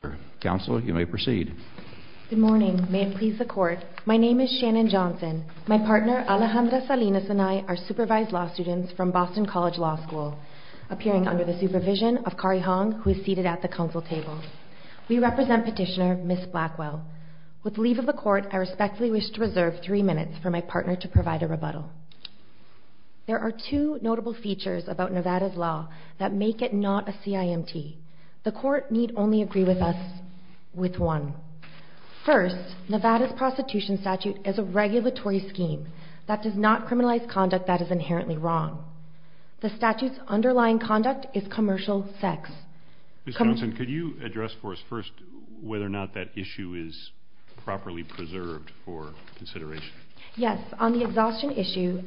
Good morning. May it please the Court, my name is Shannon Johnson. My partner, Alejandra Salinas, and I are supervised law students from Boston College Law School, appearing under the supervision of Kari Hong, who is seated at the Council table. We represent Petitioner Ms. Blackwell. With the leave of the Court, I respectfully wish to reserve three minutes for my partner to provide a rebuttal. There are two notable features about Nevada's law that make it not a CIMT. The Court need only agree with us with one. First, Nevada's prostitution statute is a regulatory scheme that does not criminalize conduct that is inherently wrong. The statute's underlying conduct is commercial sex. Ms. Johnson, could you address for us first whether or not that issue is properly preserved for consideration? Yes. On the exhaustion issue,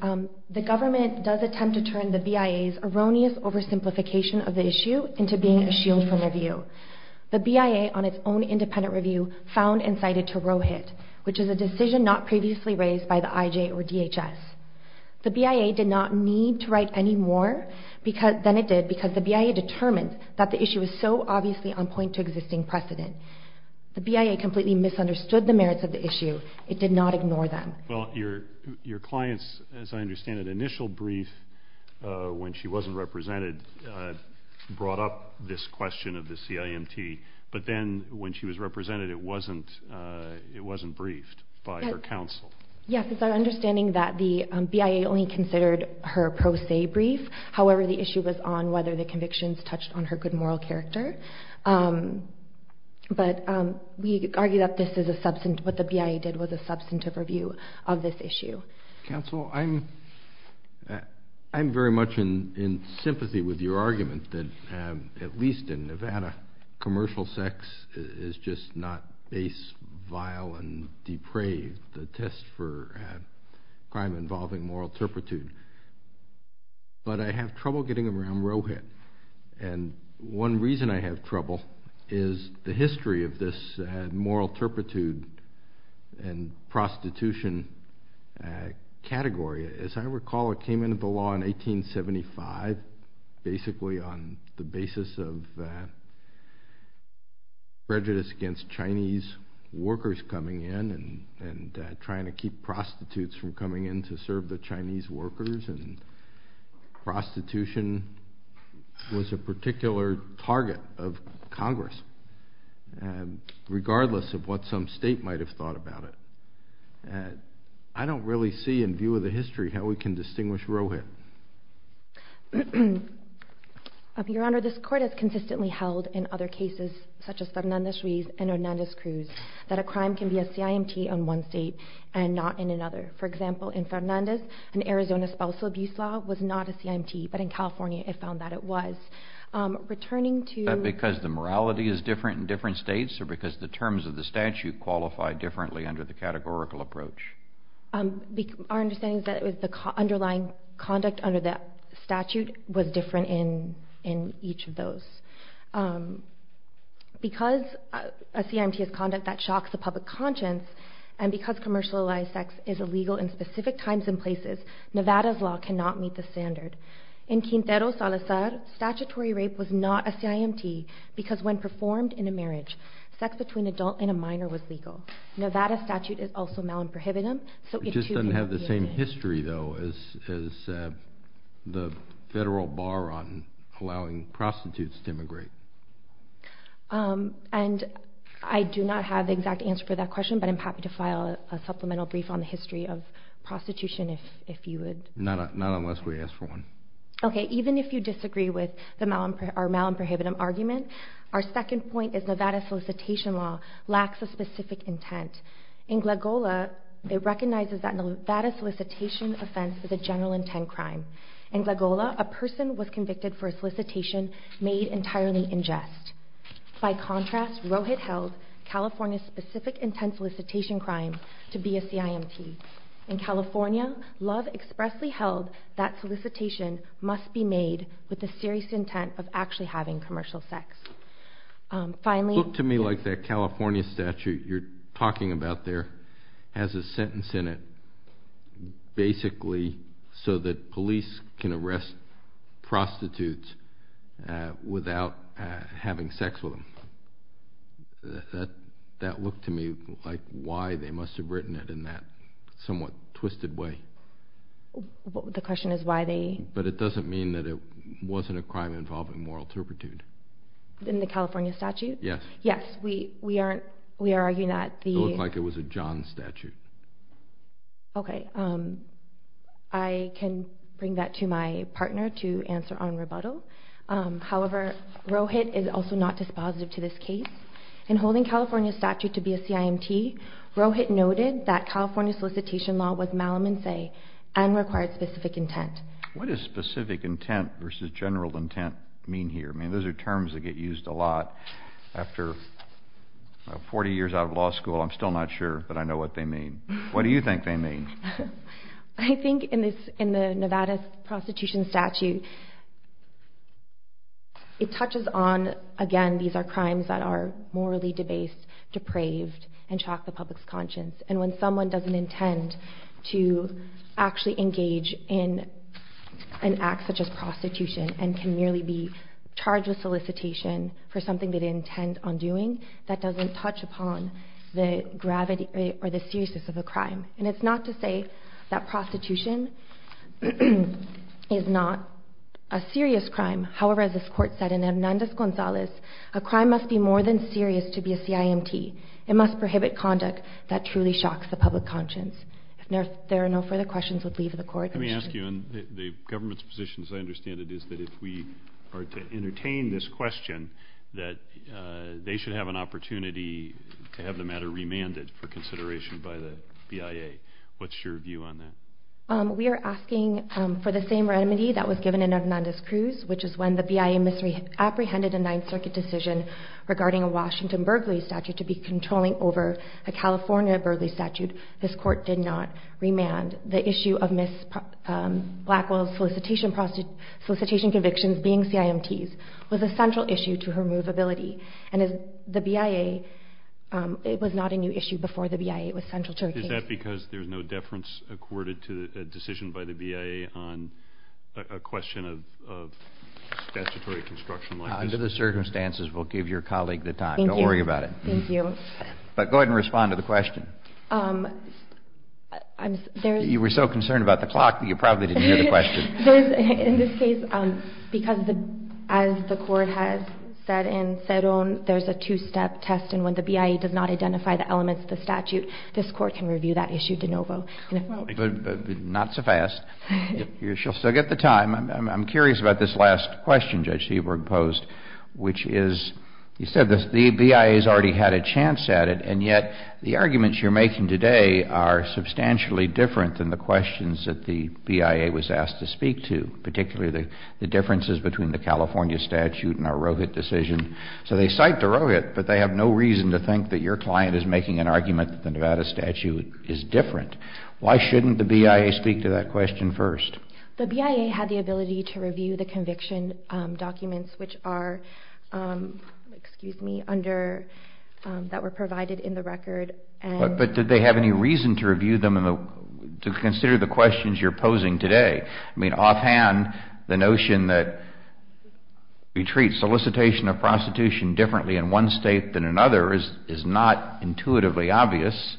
the government does attempt to turn the BIA's erroneous oversimplification of the issue into being a shield from review. The BIA, on its own independent review, found and cited Tarohit, which is a decision not previously raised by the IJ or DHS. The BIA did not need to write any more than it did because the BIA determined that the issue is so obviously on point to existing precedent. The BIA completely misunderstood the merits of the issue. It did not ignore them. Well, your client's, as I understand it, initial brief when she wasn't represented brought up this question of the CIMT, but then when she was represented, it wasn't briefed by her counsel. Yes. It's our understanding that the BIA only considered her pro se brief. However, the issue was on whether the convictions touched on her good moral character. But we argue that what the BIA did was a substantive review of this issue. Counsel, I'm very much in sympathy with your argument that, at least in Nevada, commercial sex is just not ace, vile, and depraved, the test for crime involving moral turpitude. But I have trouble getting around Rohit. And one reason I have trouble is the history of this moral turpitude and prostitution category. As I recall, it came into the law in 1875, basically on the basis of prejudice against Chinese workers coming in and trying to keep prostitutes from coming in to serve the Chinese workers. And prostitution was a particular target of Congress, regardless of what some state might have thought about it. I don't really see, in view of the history, how we can distinguish Rohit. Your Honor, this Court has consistently held in other cases, such as Fernandez-Ruiz and Hernandez-Cruz, that a crime can be a CIMT in one state and not in another. For example, in Fernandez, an Arizona spousal abuse law was not a CIMT, but in California it found that it was. Is that because the morality is different in different states, or because the terms of the statute qualify differently under the categorical approach? Our understanding is that the underlying conduct under the statute was different in each of those. Because a CIMT is conduct that shocks the public conscience, and because commercialized sex is illegal in specific times and places, Nevada's law cannot meet the standard. In Quintero Salazar, statutory rape was not a CIMT, because when performed in a marriage, sex between an adult and a minor was legal. Nevada's statute is also non-prohibitive. It just doesn't have the same history, though, as the federal bar on allowing prostitutes to immigrate. And I do not have the exact answer for that question, but I'm happy to file a supplemental brief on the history of prostitution, if you would. Not unless we ask for one. Okay, even if you disagree with our mal and prohibitive argument, our second point is Nevada solicitation law lacks a specific intent. In Glagola, it recognizes that Nevada solicitation offense is a general intent crime. In Glagola, a person was convicted for a solicitation made entirely in jest. By contrast, Rohit held California's specific intent solicitation crime to be a CIMT. In California, Love expressly held that solicitation must be made with a serious intent of actually having commercial sex. Look to me like that California statute you're talking about there has a sentence in it, basically so that police can arrest prostitutes without having sex with them. That looked to me like why they must have written it in that somewhat twisted way. The question is why they... But it doesn't mean that it wasn't a crime involving moral turpitude. In the California statute? Yes. Yes, we are arguing that the... It looked like it was a John statute. Okay, I can bring that to my partner to answer on rebuttal. However, Rohit is also not dispositive to this case. In holding California's statute to be a CIMT, Rohit noted that California solicitation law was malum in se and required specific intent. What does specific intent versus general intent mean here? I mean, those are terms that get used a lot after 40 years out of law school. I'm still not sure, but I know what they mean. What do you think they mean? I think in the Nevada prostitution statute, it touches on, again, these are crimes that are morally debased, depraved, and shock the public's conscience. And when someone doesn't intend to actually engage in an act such as prostitution and can merely be charged with solicitation for something they didn't intend on doing, that doesn't touch upon the gravity or the seriousness of a crime. And it's not to say that prostitution is not a serious crime. However, as this Court said in Hernandez-Gonzalez, a crime must be more than serious to be a CIMT. It must prohibit conduct that truly shocks the public conscience. If there are no further questions, we'll leave the Court. Let me ask you, and the government's position, as I understand it, is that if we are to entertain this question, that they should have an opportunity to have the matter remanded for consideration by the BIA. What's your view on that? We are asking for the same remedy that was given in Hernandez-Cruz, which is when the BIA misapprehended a Ninth Circuit decision regarding a Washington burglary statute to be controlling over a California burglary statute. This Court did not remand. The issue of Ms. Blackwell's solicitation convictions being CIMTs was a central issue to her movability. And the BIA, it was not a new issue before the BIA. It was central to her case. Is that because there's no deference accorded to a decision by the BIA on a question of statutory construction like this? Under the circumstances, we'll give your colleague the time. Thank you. Don't worry about it. Thank you. But go ahead and respond to the question. You were so concerned about the clock that you probably didn't hear the question. In this case, because as the Court has said in Ceron, there's a two-step test, and when the BIA does not identify the elements of the statute, this Court can review that issue de novo. Not so fast. She'll still get the time. I'm curious about this last question Judge Seabrook posed, which is, you said the BIA has already had a chance at it, and yet the arguments you're making today are substantially different than the questions that the BIA was asked to speak to, particularly the differences between the California statute and our Rohit decision. So they cite the Rohit, but they have no reason to think that your client is making an argument that the Nevada statute is different. Why shouldn't the BIA speak to that question first? The BIA had the ability to review the conviction documents that were provided in the record. But did they have any reason to consider the questions you're posing today? I mean, offhand, the notion that we treat solicitation of prostitution differently in one state than another is not intuitively obvious.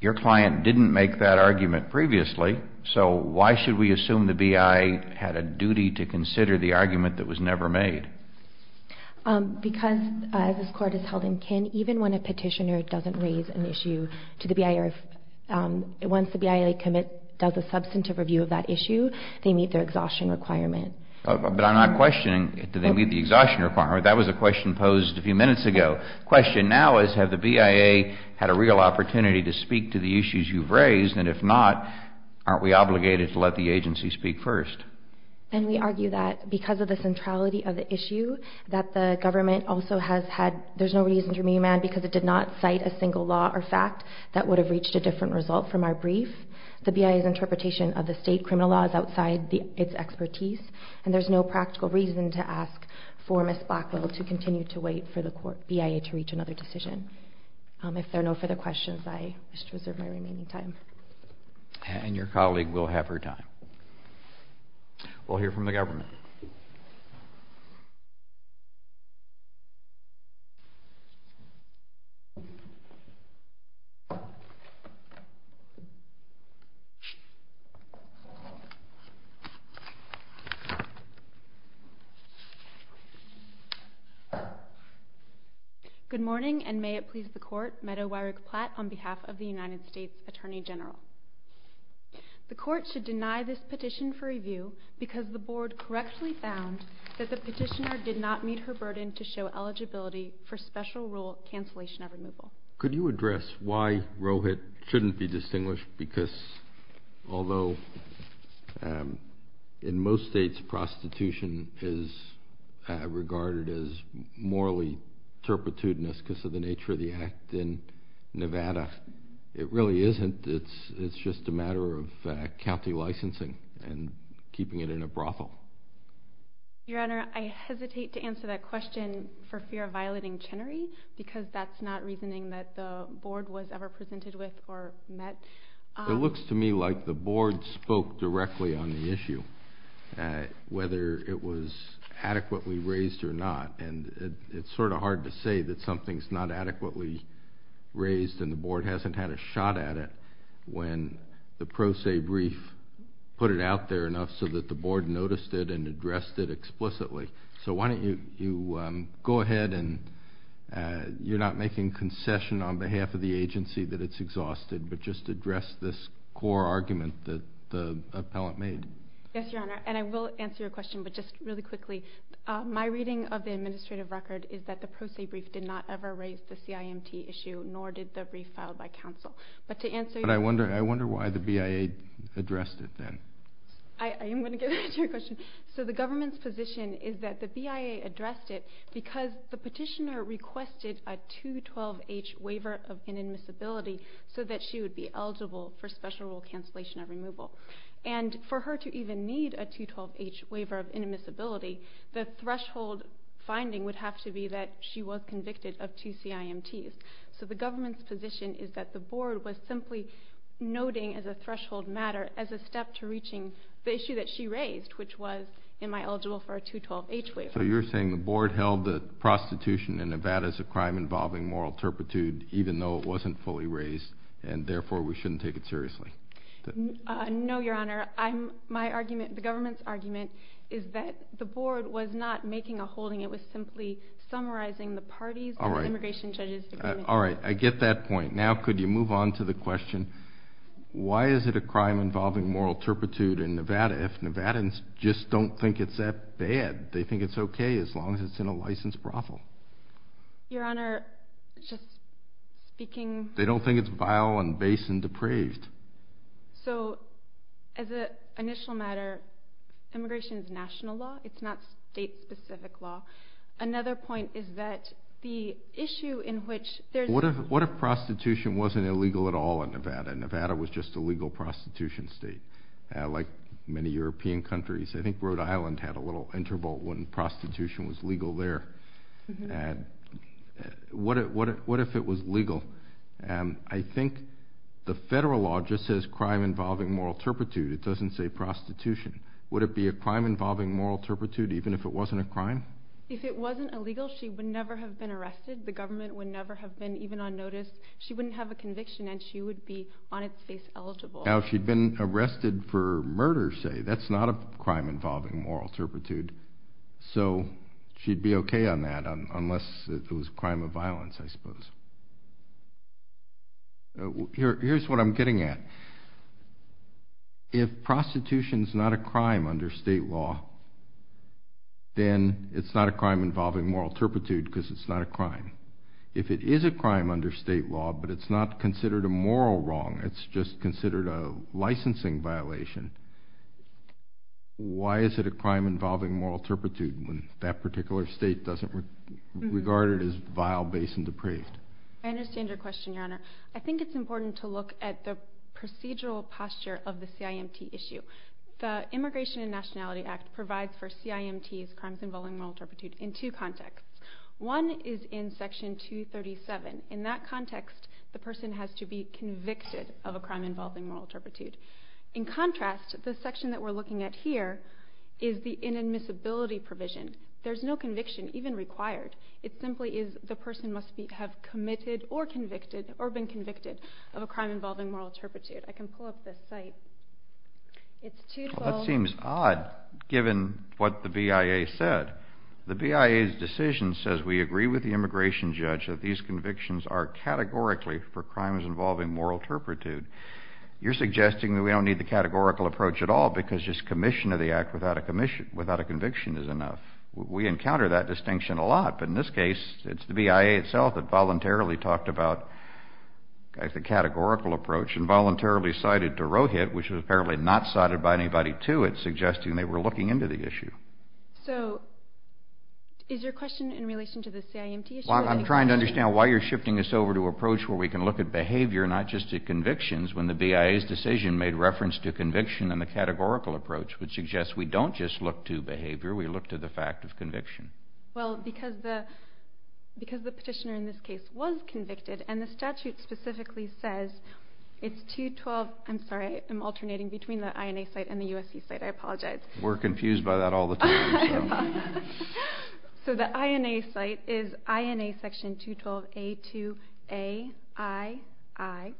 Your client didn't make that argument previously, so why should we assume the BIA had a duty to consider the argument that was never made? Because, as this Court has held in kin, even when a petitioner doesn't raise an issue to the BIA, once the BIA does a substantive review of that issue, they meet their exhaustion requirement. But I'm not questioning do they meet the exhaustion requirement. That was a question posed a few minutes ago. The question now is have the BIA had a real opportunity to speak to the issues you've raised, and if not, aren't we obligated to let the agency speak first? And we argue that because of the centrality of the issue, that the government also has had, there's no reason to remand because it did not cite a single law or fact that would have reached a different result from our brief. The BIA's interpretation of the state criminal law is outside its expertise, and there's no practical reason to ask for Ms. Blackwell to continue to wait for the BIA to reach another decision. If there are no further questions, I wish to reserve my remaining time. And your colleague will have her time. We'll hear from the government. Good morning, and may it please the Court, Meadow Weirich Platt on behalf of the United States Attorney General. The Court should deny this petition for review because the Board correctly found that the petitioner did not meet her burden to show eligibility for special rule cancellation of removal. Could you address why Rohit shouldn't be distinguished? Because although in most states prostitution is regarded as morally turpitude because of the nature of the act in Nevada, it really isn't. It's just a matter of county licensing and keeping it in a brothel. Your Honor, I hesitate to answer that question for fear of violating Chenery because that's not reasoning that the Board was ever presented with or met. It looks to me like the Board spoke directly on the issue, whether it was adequately raised or not. And it's sort of hard to say that something's not adequately raised and the Board hasn't had a shot at it when the pro se brief put it out there enough so that the Board noticed it and addressed it explicitly. So why don't you go ahead and you're not making concession on behalf of the agency that it's exhausted, but just address this core argument that the appellant made. Yes, Your Honor, and I will answer your question, but just really quickly. My reading of the administrative record is that the pro se brief did not ever raise the CIMT issue, nor did the brief filed by counsel. But to answer your question. But I wonder why the BIA addressed it then. I am going to get to your question. So the government's position is that the BIA addressed it because the petitioner requested a 212H waiver of inadmissibility so that she would be eligible for special rule cancellation and removal. And for her to even need a 212H waiver of inadmissibility, the threshold finding would have to be that she was convicted of two CIMTs. So the government's position is that the Board was simply noting as a threshold matter as a step to reaching the issue that she raised, which was am I eligible for a 212H waiver. So you're saying the Board held that prostitution in Nevada is a crime involving moral turpitude even though it wasn't fully raised, and therefore we shouldn't take it seriously. No, Your Honor. My argument, the government's argument, is that the Board was not making a holding. It was simply summarizing the party's and the immigration judge's agreement. All right. I get that point. Now could you move on to the question, why is it a crime involving moral turpitude in Nevada if Nevadans just don't think it's that bad? They think it's okay as long as it's in a licensed brothel. Your Honor, just speaking. They don't think it's vile and base and depraved. So as an initial matter, immigration is national law. It's not state-specific law. Another point is that the issue in which there's... What if prostitution wasn't illegal at all in Nevada? Nevada was just a legal prostitution state, like many European countries. I think Rhode Island had a little interval when prostitution was legal there. What if it was legal? I think the federal law just says crime involving moral turpitude. It doesn't say prostitution. Would it be a crime involving moral turpitude even if it wasn't a crime? If it wasn't illegal, she would never have been arrested. The government would never have been even on notice. She wouldn't have a conviction, and she would be on its face eligible. Now she'd been arrested for murder, say. That's not a crime involving moral turpitude. So she'd be okay on that, unless it was a crime of violence, I suppose. Here's what I'm getting at. If prostitution's not a crime under state law, then it's not a crime involving moral turpitude because it's not a crime. If it is a crime under state law, but it's not considered a moral wrong, it's just considered a licensing violation, why is it a crime involving moral turpitude when that particular state doesn't regard it as vile, base, and depraved? I understand your question, Your Honor. I think it's important to look at the procedural posture of the CIMT issue. The Immigration and Nationality Act provides for CIMT's crimes involving moral turpitude in two contexts. One is in Section 237. In that context, the person has to be convicted of a crime involving moral turpitude. In contrast, the section that we're looking at here is the inadmissibility provision. There's no conviction even required. It simply is the person must have committed or been convicted of a crime involving moral turpitude. I can pull up this site. That seems odd, given what the BIA said. The BIA's decision says we agree with the immigration judge that these convictions are categorically for crimes involving moral turpitude. You're suggesting that we don't need the categorical approach at all because just commission of the act without a conviction is enough. We encounter that distinction a lot. But in this case, it's the BIA itself that voluntarily talked about the categorical approach and voluntarily cited to Rohit, which was apparently not cited by anybody to it, suggesting they were looking into the issue. So is your question in relation to the CIMT issue? I'm trying to understand why you're shifting this over to an approach where we can look at behavior, not just at convictions, when the BIA's decision made reference to conviction and the categorical approach would suggest we don't just look to behavior. We look to the fact of conviction. Well, because the petitioner in this case was convicted, and the statute specifically says it's 212. I'm sorry, I'm alternating between the INA site and the USC site. I apologize. We're confused by that all the time. So the INA site is INA section 212A2AII.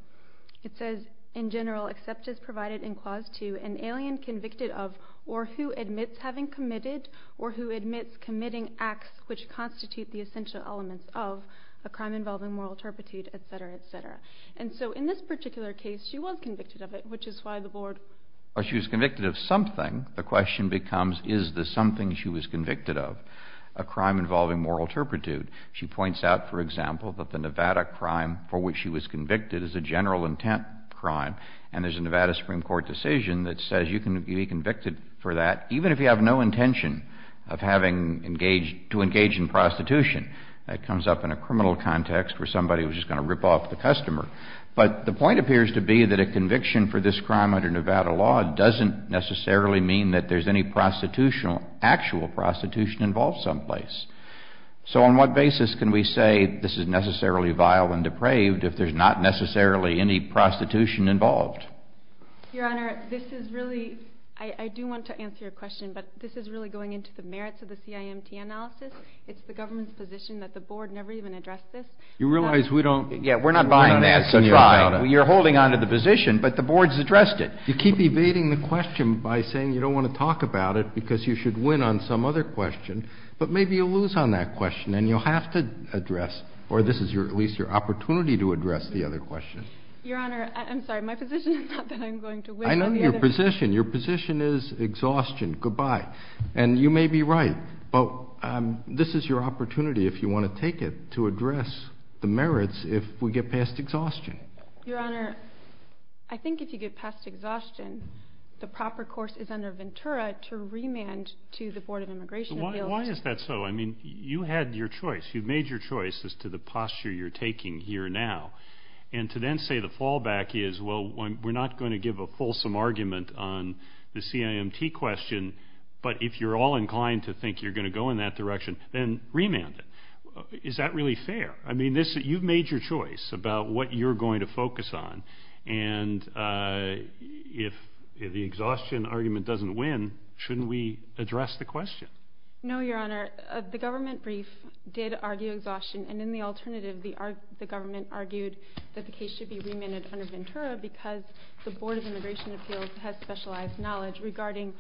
It says, in general, except as provided in clause 2, an alien convicted of or who admits having committed or who admits committing acts which constitute the essential elements of a crime involving moral turpitude, et cetera, et cetera. And so in this particular case, she was convicted of it, which is why the board or she was convicted of something. The question becomes, is this something she was convicted of, a crime involving moral turpitude? She points out, for example, that the Nevada crime for which she was convicted is a general intent crime, and there's a Nevada Supreme Court decision that says you can be convicted for that, even if you have no intention of having engaged to engage in prostitution. That comes up in a criminal context where somebody was just going to rip off the customer. But the point appears to be that a conviction for this crime under Nevada law doesn't necessarily mean that there's any actual prostitution involved someplace. So on what basis can we say this is necessarily vile and depraved if there's not necessarily any prostitution involved? Your Honor, this is really, I do want to answer your question, but this is really going into the merits of the CIMT analysis. It's the government's position that the board never even addressed this. You realize we don't— Yeah, we're not buying that from you, Your Honor. You're holding on to the position, but the board's addressed it. You keep evading the question by saying you don't want to talk about it because you should win on some other question, but maybe you'll lose on that question, and you'll have to address, or this is at least your opportunity to address the other question. Your Honor, I'm sorry. My position is not that I'm going to win on the other— I know your position. Your position is exhaustion, goodbye. And you may be right, but this is your opportunity, if you want to take it, to address the merits if we get past exhaustion. Your Honor, I think if you get past exhaustion, the proper course is under Ventura to remand to the Board of Immigration Appeals. Why is that so? I mean, you had your choice. You made your choice as to the posture you're taking here now, and to then say the fallback is, well, we're not going to give a fulsome argument on the CIMT question but if you're all inclined to think you're going to go in that direction, then remand it. Is that really fair? I mean, you've made your choice about what you're going to focus on, and if the exhaustion argument doesn't win, shouldn't we address the question? No, Your Honor. The government brief did argue exhaustion, and in the alternative, the government argued that the case should be remanded under Ventura because the Board of Immigration Appeals has specialized knowledge regarding—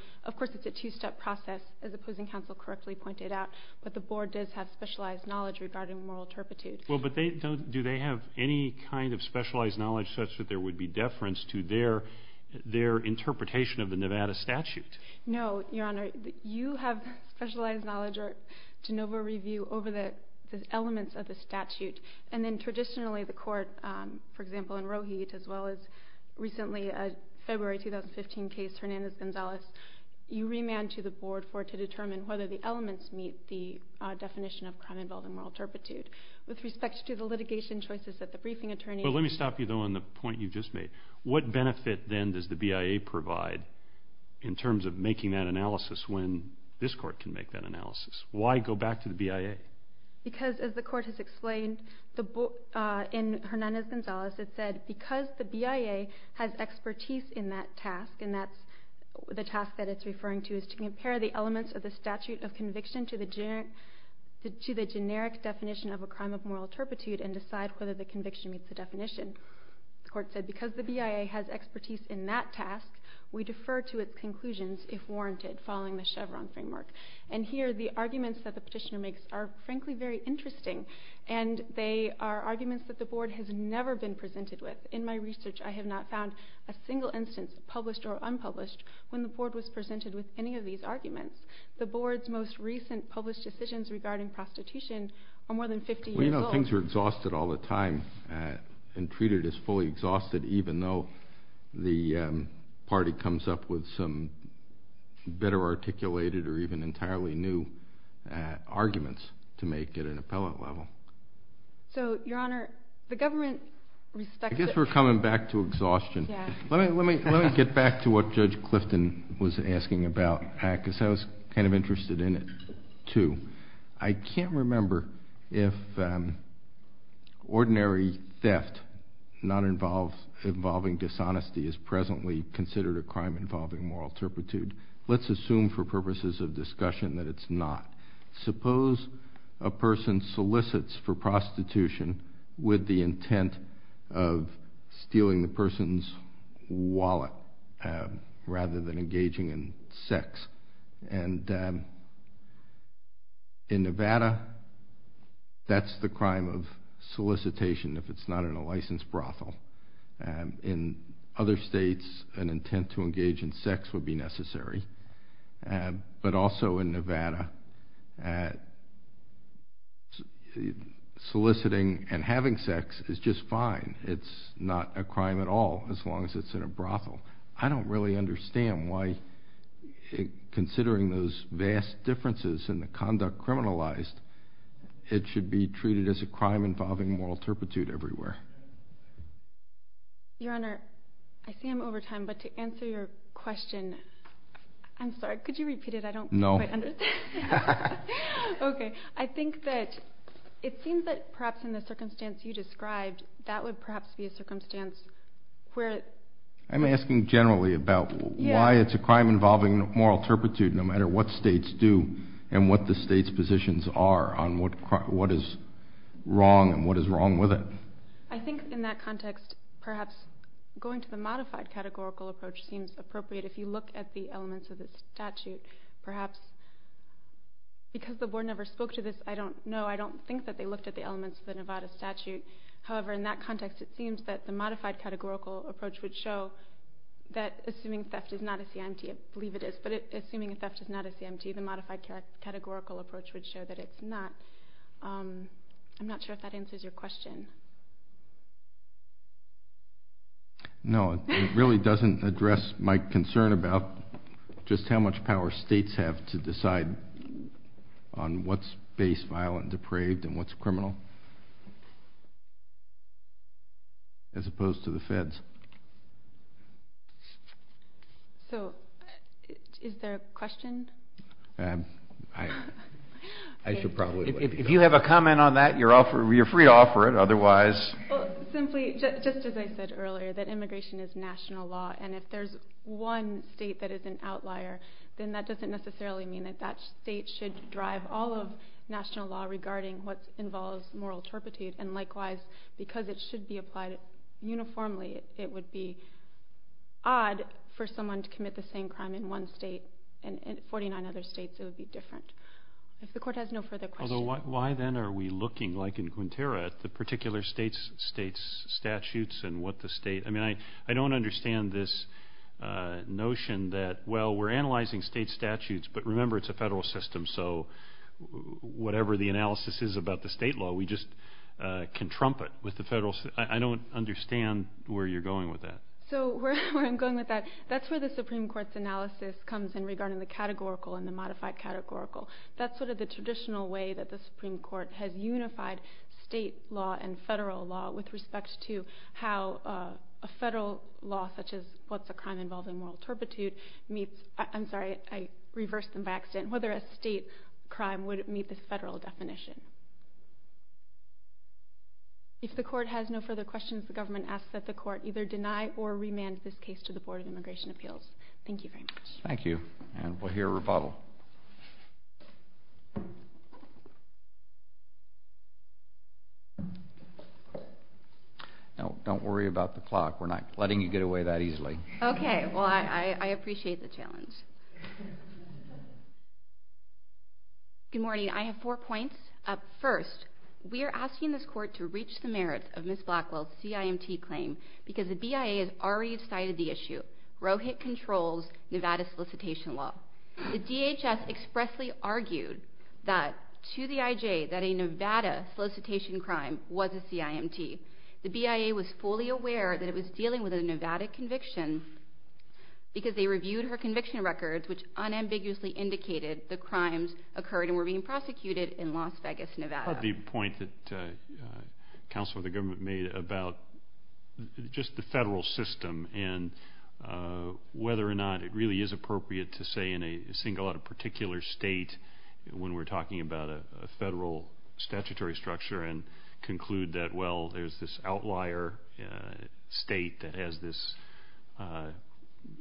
it's a two-step process, as opposing counsel correctly pointed out, but the Board does have specialized knowledge regarding moral turpitude. Well, but do they have any kind of specialized knowledge such that there would be deference to their interpretation of the Nevada statute? No, Your Honor. You have specialized knowledge or de novo review over the elements of the statute, and then traditionally the court, for example, in Rohe, as well as recently a February 2015 case, Hernandez-Gonzalez, you remand to the Board to determine whether the elements meet the definition of crime-involved and moral turpitude. With respect to the litigation choices that the briefing attorney— Well, let me stop you, though, on the point you just made. What benefit, then, does the BIA provide in terms of making that analysis when this court can make that analysis? Why go back to the BIA? Because, as the court has explained in Hernandez-Gonzalez, it said, because the BIA has expertise in that task, and that's the task that it's referring to, is to compare the elements of the statute of conviction to the generic definition of a crime of moral turpitude and decide whether the conviction meets the definition. The court said, because the BIA has expertise in that task, we defer to its conclusions if warranted, following the Chevron framework. And here the arguments that the petitioner makes are, frankly, very interesting, and they are arguments that the Board has never been presented with. In my research, I have not found a single instance, published or unpublished, when the Board was presented with any of these arguments. The Board's most recent published decisions regarding prostitution are more than 50 years old. Well, you know, things are exhausted all the time and treated as fully exhausted, even though the party comes up with some better articulated or even entirely new arguments to make at an appellate level. So, Your Honor, the government respects it. I guess we're coming back to exhaustion. Let me get back to what Judge Clifton was asking about, because I was kind of interested in it, too. I can't remember if ordinary theft not involving dishonesty is presently considered a crime involving moral turpitude. Let's assume for purposes of discussion that it's not. Suppose a person solicits for prostitution with the intent of stealing the person's wallet rather than engaging in sex. In Nevada, that's the crime of solicitation, if it's not in a licensed brothel. In other states, an intent to engage in sex would be necessary. But also in Nevada, soliciting and having sex is just fine. It's not a crime at all, as long as it's in a brothel. I don't really understand why, considering those vast differences in the conduct criminalized, it should be treated as a crime involving moral turpitude everywhere. Your Honor, I see I'm over time, but to answer your question, I'm sorry, could you repeat it? I don't quite understand. Okay, I think that it seems that perhaps in the circumstance you described, that would perhaps be a circumstance where... I'm asking generally about why it's a crime involving moral turpitude, no matter what states do and what the state's positions are on what is wrong and what is wrong with it. I think in that context, perhaps going to the modified categorical approach seems appropriate if you look at the elements of the statute. Perhaps because the Board never spoke to this, I don't know, I don't think that they looked at the elements of the Nevada statute. However, in that context, it seems that the modified categorical approach would show that assuming theft is not a CIMT, I believe it is, but assuming theft is not a CIMT, the modified categorical approach would show that it's not. I'm not sure if that answers your question. No, it really doesn't address my concern about just how much power states have to decide on what's base, violent, depraved, and what's criminal, as opposed to the feds. So, is there a question? I should probably... If you have a comment on that, you're free to offer it, otherwise... Simply, just as I said earlier, that immigration is national law, and if there's one state that is an outlier, then that doesn't necessarily mean that that state should drive all of national law regarding what involves moral turpitude, and likewise, because it should be applied uniformly, it would be odd for someone to commit the same crime in one state, and in 49 other states it would be different. If the court has no further questions... Although, why then are we looking, like in Quintero, at the particular state's statutes and what the state... I mean, I don't understand this notion that, well, we're analyzing state statutes, but remember, it's a federal system, so whatever the analysis is about the state law, we just can trump it with the federal... I don't understand where you're going with that. So where I'm going with that, that's where the Supreme Court's analysis comes in regarding the categorical and the modified categorical. That's sort of the traditional way that the Supreme Court has unified state law and federal law with respect to how a federal law, such as what's a crime involving moral turpitude, meets... I'm sorry, I reversed them by accident. Whether a state crime would meet this federal definition. If the court has no further questions, the government asks that the court either deny or remand this case to the Board of Immigration Appeals. Thank you very much. Thank you, and we'll hear a rebuttal. No, don't worry about the clock. We're not letting you get away that easily. Okay, well, I appreciate the challenge. Good morning. I have four points. First, we are asking this court to reach the merits of Ms. Blackwell's CIMT claim because the BIA has already cited the issue. Rohit controls Nevada solicitation law. The DHS expressly argued to the IJ that a Nevada solicitation crime was a CIMT. The BIA was fully aware that it was dealing with a Nevada conviction because they reviewed her conviction records, which unambiguously indicated the crimes occurred and were being prosecuted in Las Vegas, Nevada. The point that the counsel of the government made about just the federal system and whether or not it really is appropriate to say in a single or particular state when we're talking about a federal statutory structure and conclude that, well, there's this outlier state that has this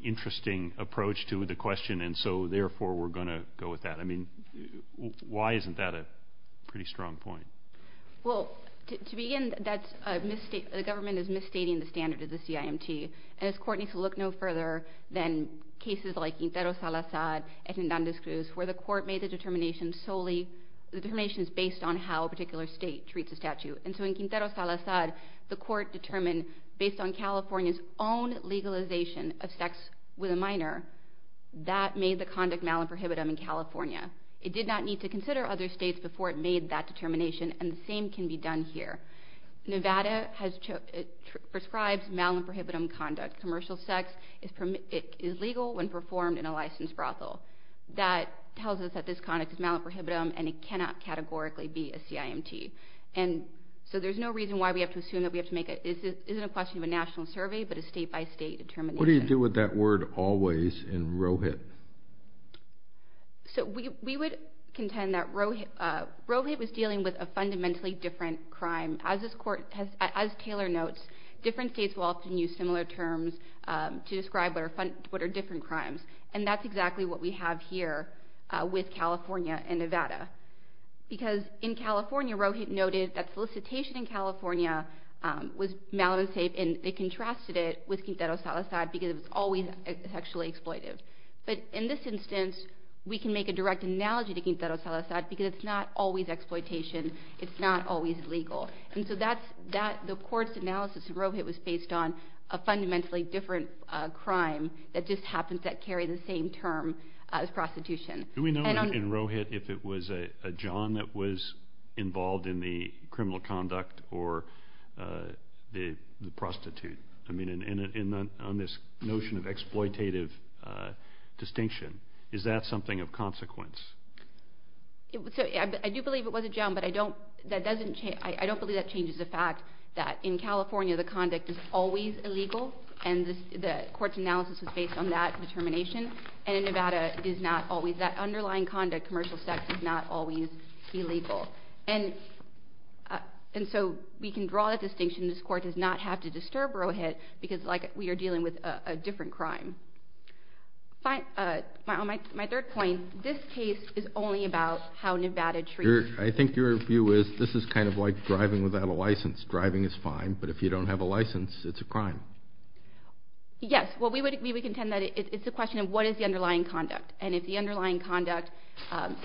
interesting approach to the question, and so, therefore, we're going to go with that. I mean, why isn't that a pretty strong point? Well, to begin, the government is misstating the standard of the CIMT, and this court needs to look no further than cases like Quintero Salazar and Hernandez-Cruz where the court made the determinations based on how a particular state treats a statute. And so in Quintero Salazar, of sex with a minor, that made the conduct malin prohibitum in California. It did not need to consider other states before it made that determination, and the same can be done here. Nevada prescribes malin prohibitum conduct. Commercial sex is legal when performed in a licensed brothel. That tells us that this conduct is malin prohibitum, and it cannot categorically be a CIMT. And so there's no reason why we have to assume that we have to make it. It isn't a question of a national survey, but a state-by-state determination. What do you do with that word always in RoHIT? So we would contend that RoHIT was dealing with a fundamentally different crime. As Taylor notes, different states will often use similar terms to describe what are different crimes, and that's exactly what we have here with California and Nevada. Because in California, RoHIT noted that solicitation in California was malin safe, and it contrasted it with Quintero Salazar because it was always sexually exploitive. But in this instance, we can make a direct analogy to Quintero Salazar because it's not always exploitation. It's not always legal. And so the court's analysis in RoHIT was based on a fundamentally different crime that just happens to carry the same term as prostitution. Do we know in RoHIT if it was a john that was involved in the criminal conduct or the prostitute? I mean, on this notion of exploitative distinction, is that something of consequence? I do believe it was a john, but I don't believe that changes the fact that in California the conduct is always illegal, and the court's analysis was based on that determination. And in Nevada, it is not always. That underlying conduct, commercial sex, is not always illegal. And so we can draw that distinction. This court does not have to disturb RoHIT because we are dealing with a different crime. My third point, this case is only about how Nevada treats... I think your view is, this is kind of like driving without a license. Driving is fine, but if you don't have a license, it's a crime. Yes, well, we would contend that it's a question of what is the underlying conduct, and if the underlying conduct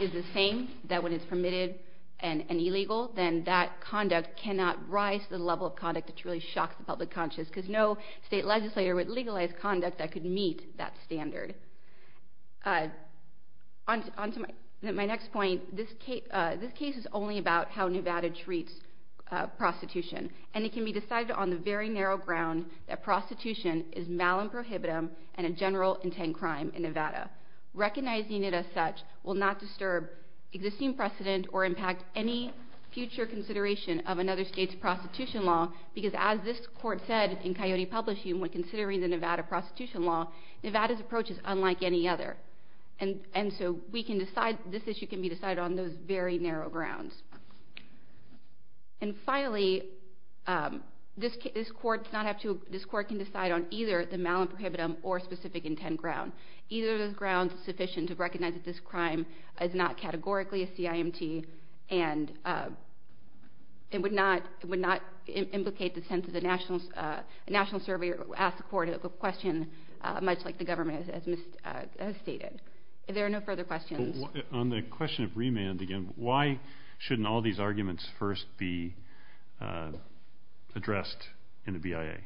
is the same, that when it's permitted and illegal, then that conduct cannot rise to the level of conduct that truly shocks the public conscious, because no state legislator would legalize conduct that could meet that standard. On to my next point, this case is only about how Nevada treats prostitution, and it can be decided on the very narrow ground that prostitution is mal and prohibitive and a general intent crime in Nevada. Recognizing it as such will not disturb existing precedent or impact any future consideration of another state's prostitution law, because as this court said in Coyote Publishing, when considering the Nevada prostitution law, Nevada's approach is unlike any other. And so this issue can be decided on those very narrow grounds. And finally, this court can decide on either the mal and prohibitive or specific intent ground. Either of those grounds is sufficient to recognize that this crime is not categorically a CIMT and it would not implicate the sense that a national surveyor would ask the court a question much like the government has stated. If there are no further questions... On the question of remand, again, why shouldn't all these arguments first be addressed in the BIA?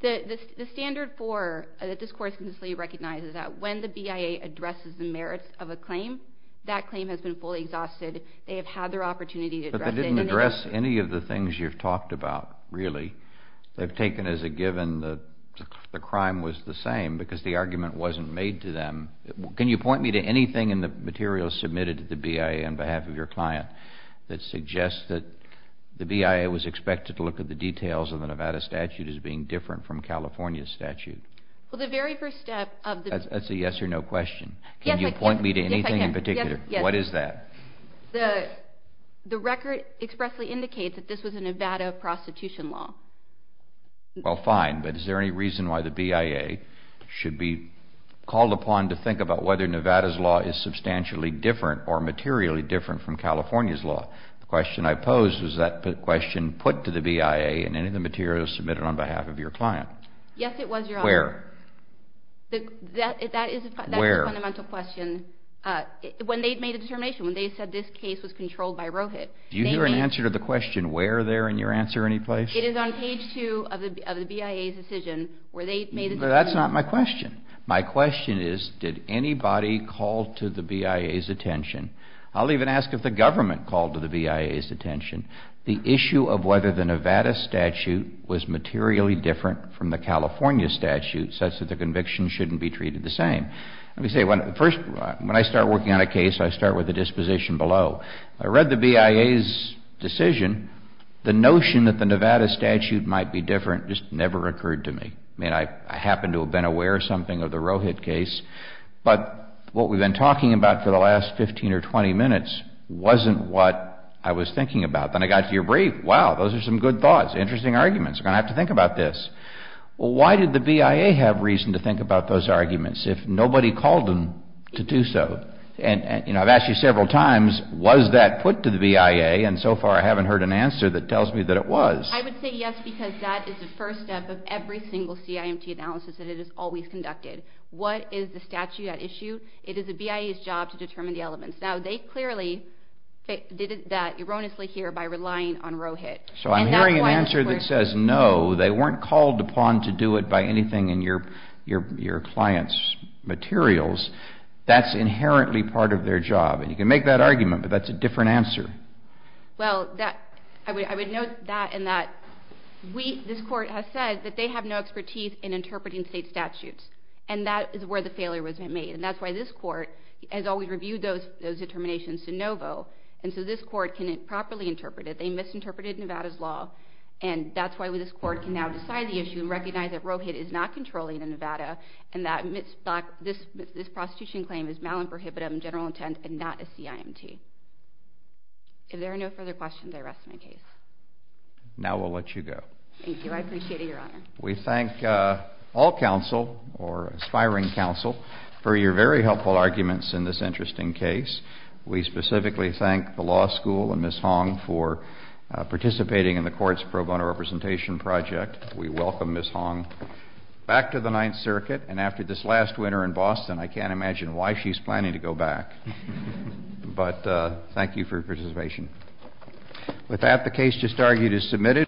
The standard for this court to recognize is that when the BIA addresses the merits of a claim, that claim has been fully exhausted. They have had their opportunity to address it. But they didn't address any of the things you've talked about, really. They've taken as a given that the crime was the same because the argument wasn't made to them. Can you point me to anything in the material submitted to the BIA on behalf of your client that suggests that the BIA was expected to look at the details of the Nevada statute as being different from California's statute? Well, the very first step of the... That's a yes or no question. Can you point me to anything in particular? What is that? The record expressly indicates that this was a Nevada prostitution law. Well, fine, but is there any reason why the BIA should be called upon to think about whether Nevada's law is substantially different or materially different from California's law? The question I posed was, was that question put to the BIA in any of the materials submitted on behalf of your client? Yes, it was, Your Honor. Where? That is a fundamental question. Where? When they made a determination, when they said this case was controlled by Rohit. Do you hear an answer to the question where there in your answer any place? It is on page 2 of the BIA's decision where they made a determination. But that's not my question. My question is, did anybody call to the BIA's attention? I'll even ask if the government called to the BIA's attention the issue of whether the Nevada statute was materially different from the California statute such that the conviction shouldn't be treated the same. Let me say, when I start working on a case, I start with the disposition below. I read the BIA's decision. The notion that the Nevada statute might be different just never occurred to me. I mean, I happen to have been aware of something of the Rohit case. But what we've been talking about for the last 15 or 20 minutes wasn't what I was thinking about. Then I got to your brief. Wow, those are some good thoughts, interesting arguments. I'm going to have to think about this. Why did the BIA have reason to think about those arguments if nobody called them to do so? And, you know, I've asked you several times, was that put to the BIA? And so far I haven't heard an answer that tells me that it was. I would say yes because that is the first step of every single CIMT analysis that it has always conducted. What is the statute at issue? It is the BIA's job to determine the elements. Now, they clearly did that erroneously here by relying on Rohit. So I'm hearing an answer that says no, they weren't called upon to do it by anything in your client's materials. That's inherently part of their job. And you can make that argument, but that's a different answer. Well, I would note that in that this Court has said that they have no expertise in interpreting state statutes, and that is where the failure was made. And that's why this Court has always reviewed those determinations de novo, and so this Court can properly interpret it. They misinterpreted Nevada's law, and that's why this Court can now decide the issue and recognize that Rohit is not controlling in Nevada and that this prostitution claim is malum prohibitum, general intent, and not a CIMT. If there are no further questions, I rest my case. Now we'll let you go. Thank you. I appreciate it, Your Honor. We thank all counsel, or aspiring counsel, for your very helpful arguments in this interesting case. We specifically thank the law school and Ms. Hong for participating in the Court's pro bono representation project. We welcome Ms. Hong back to the Ninth Circuit, and after this last winter in Boston, I can't imagine why she's planning to go back. But thank you for your participation. With that, the case just argued is submitted.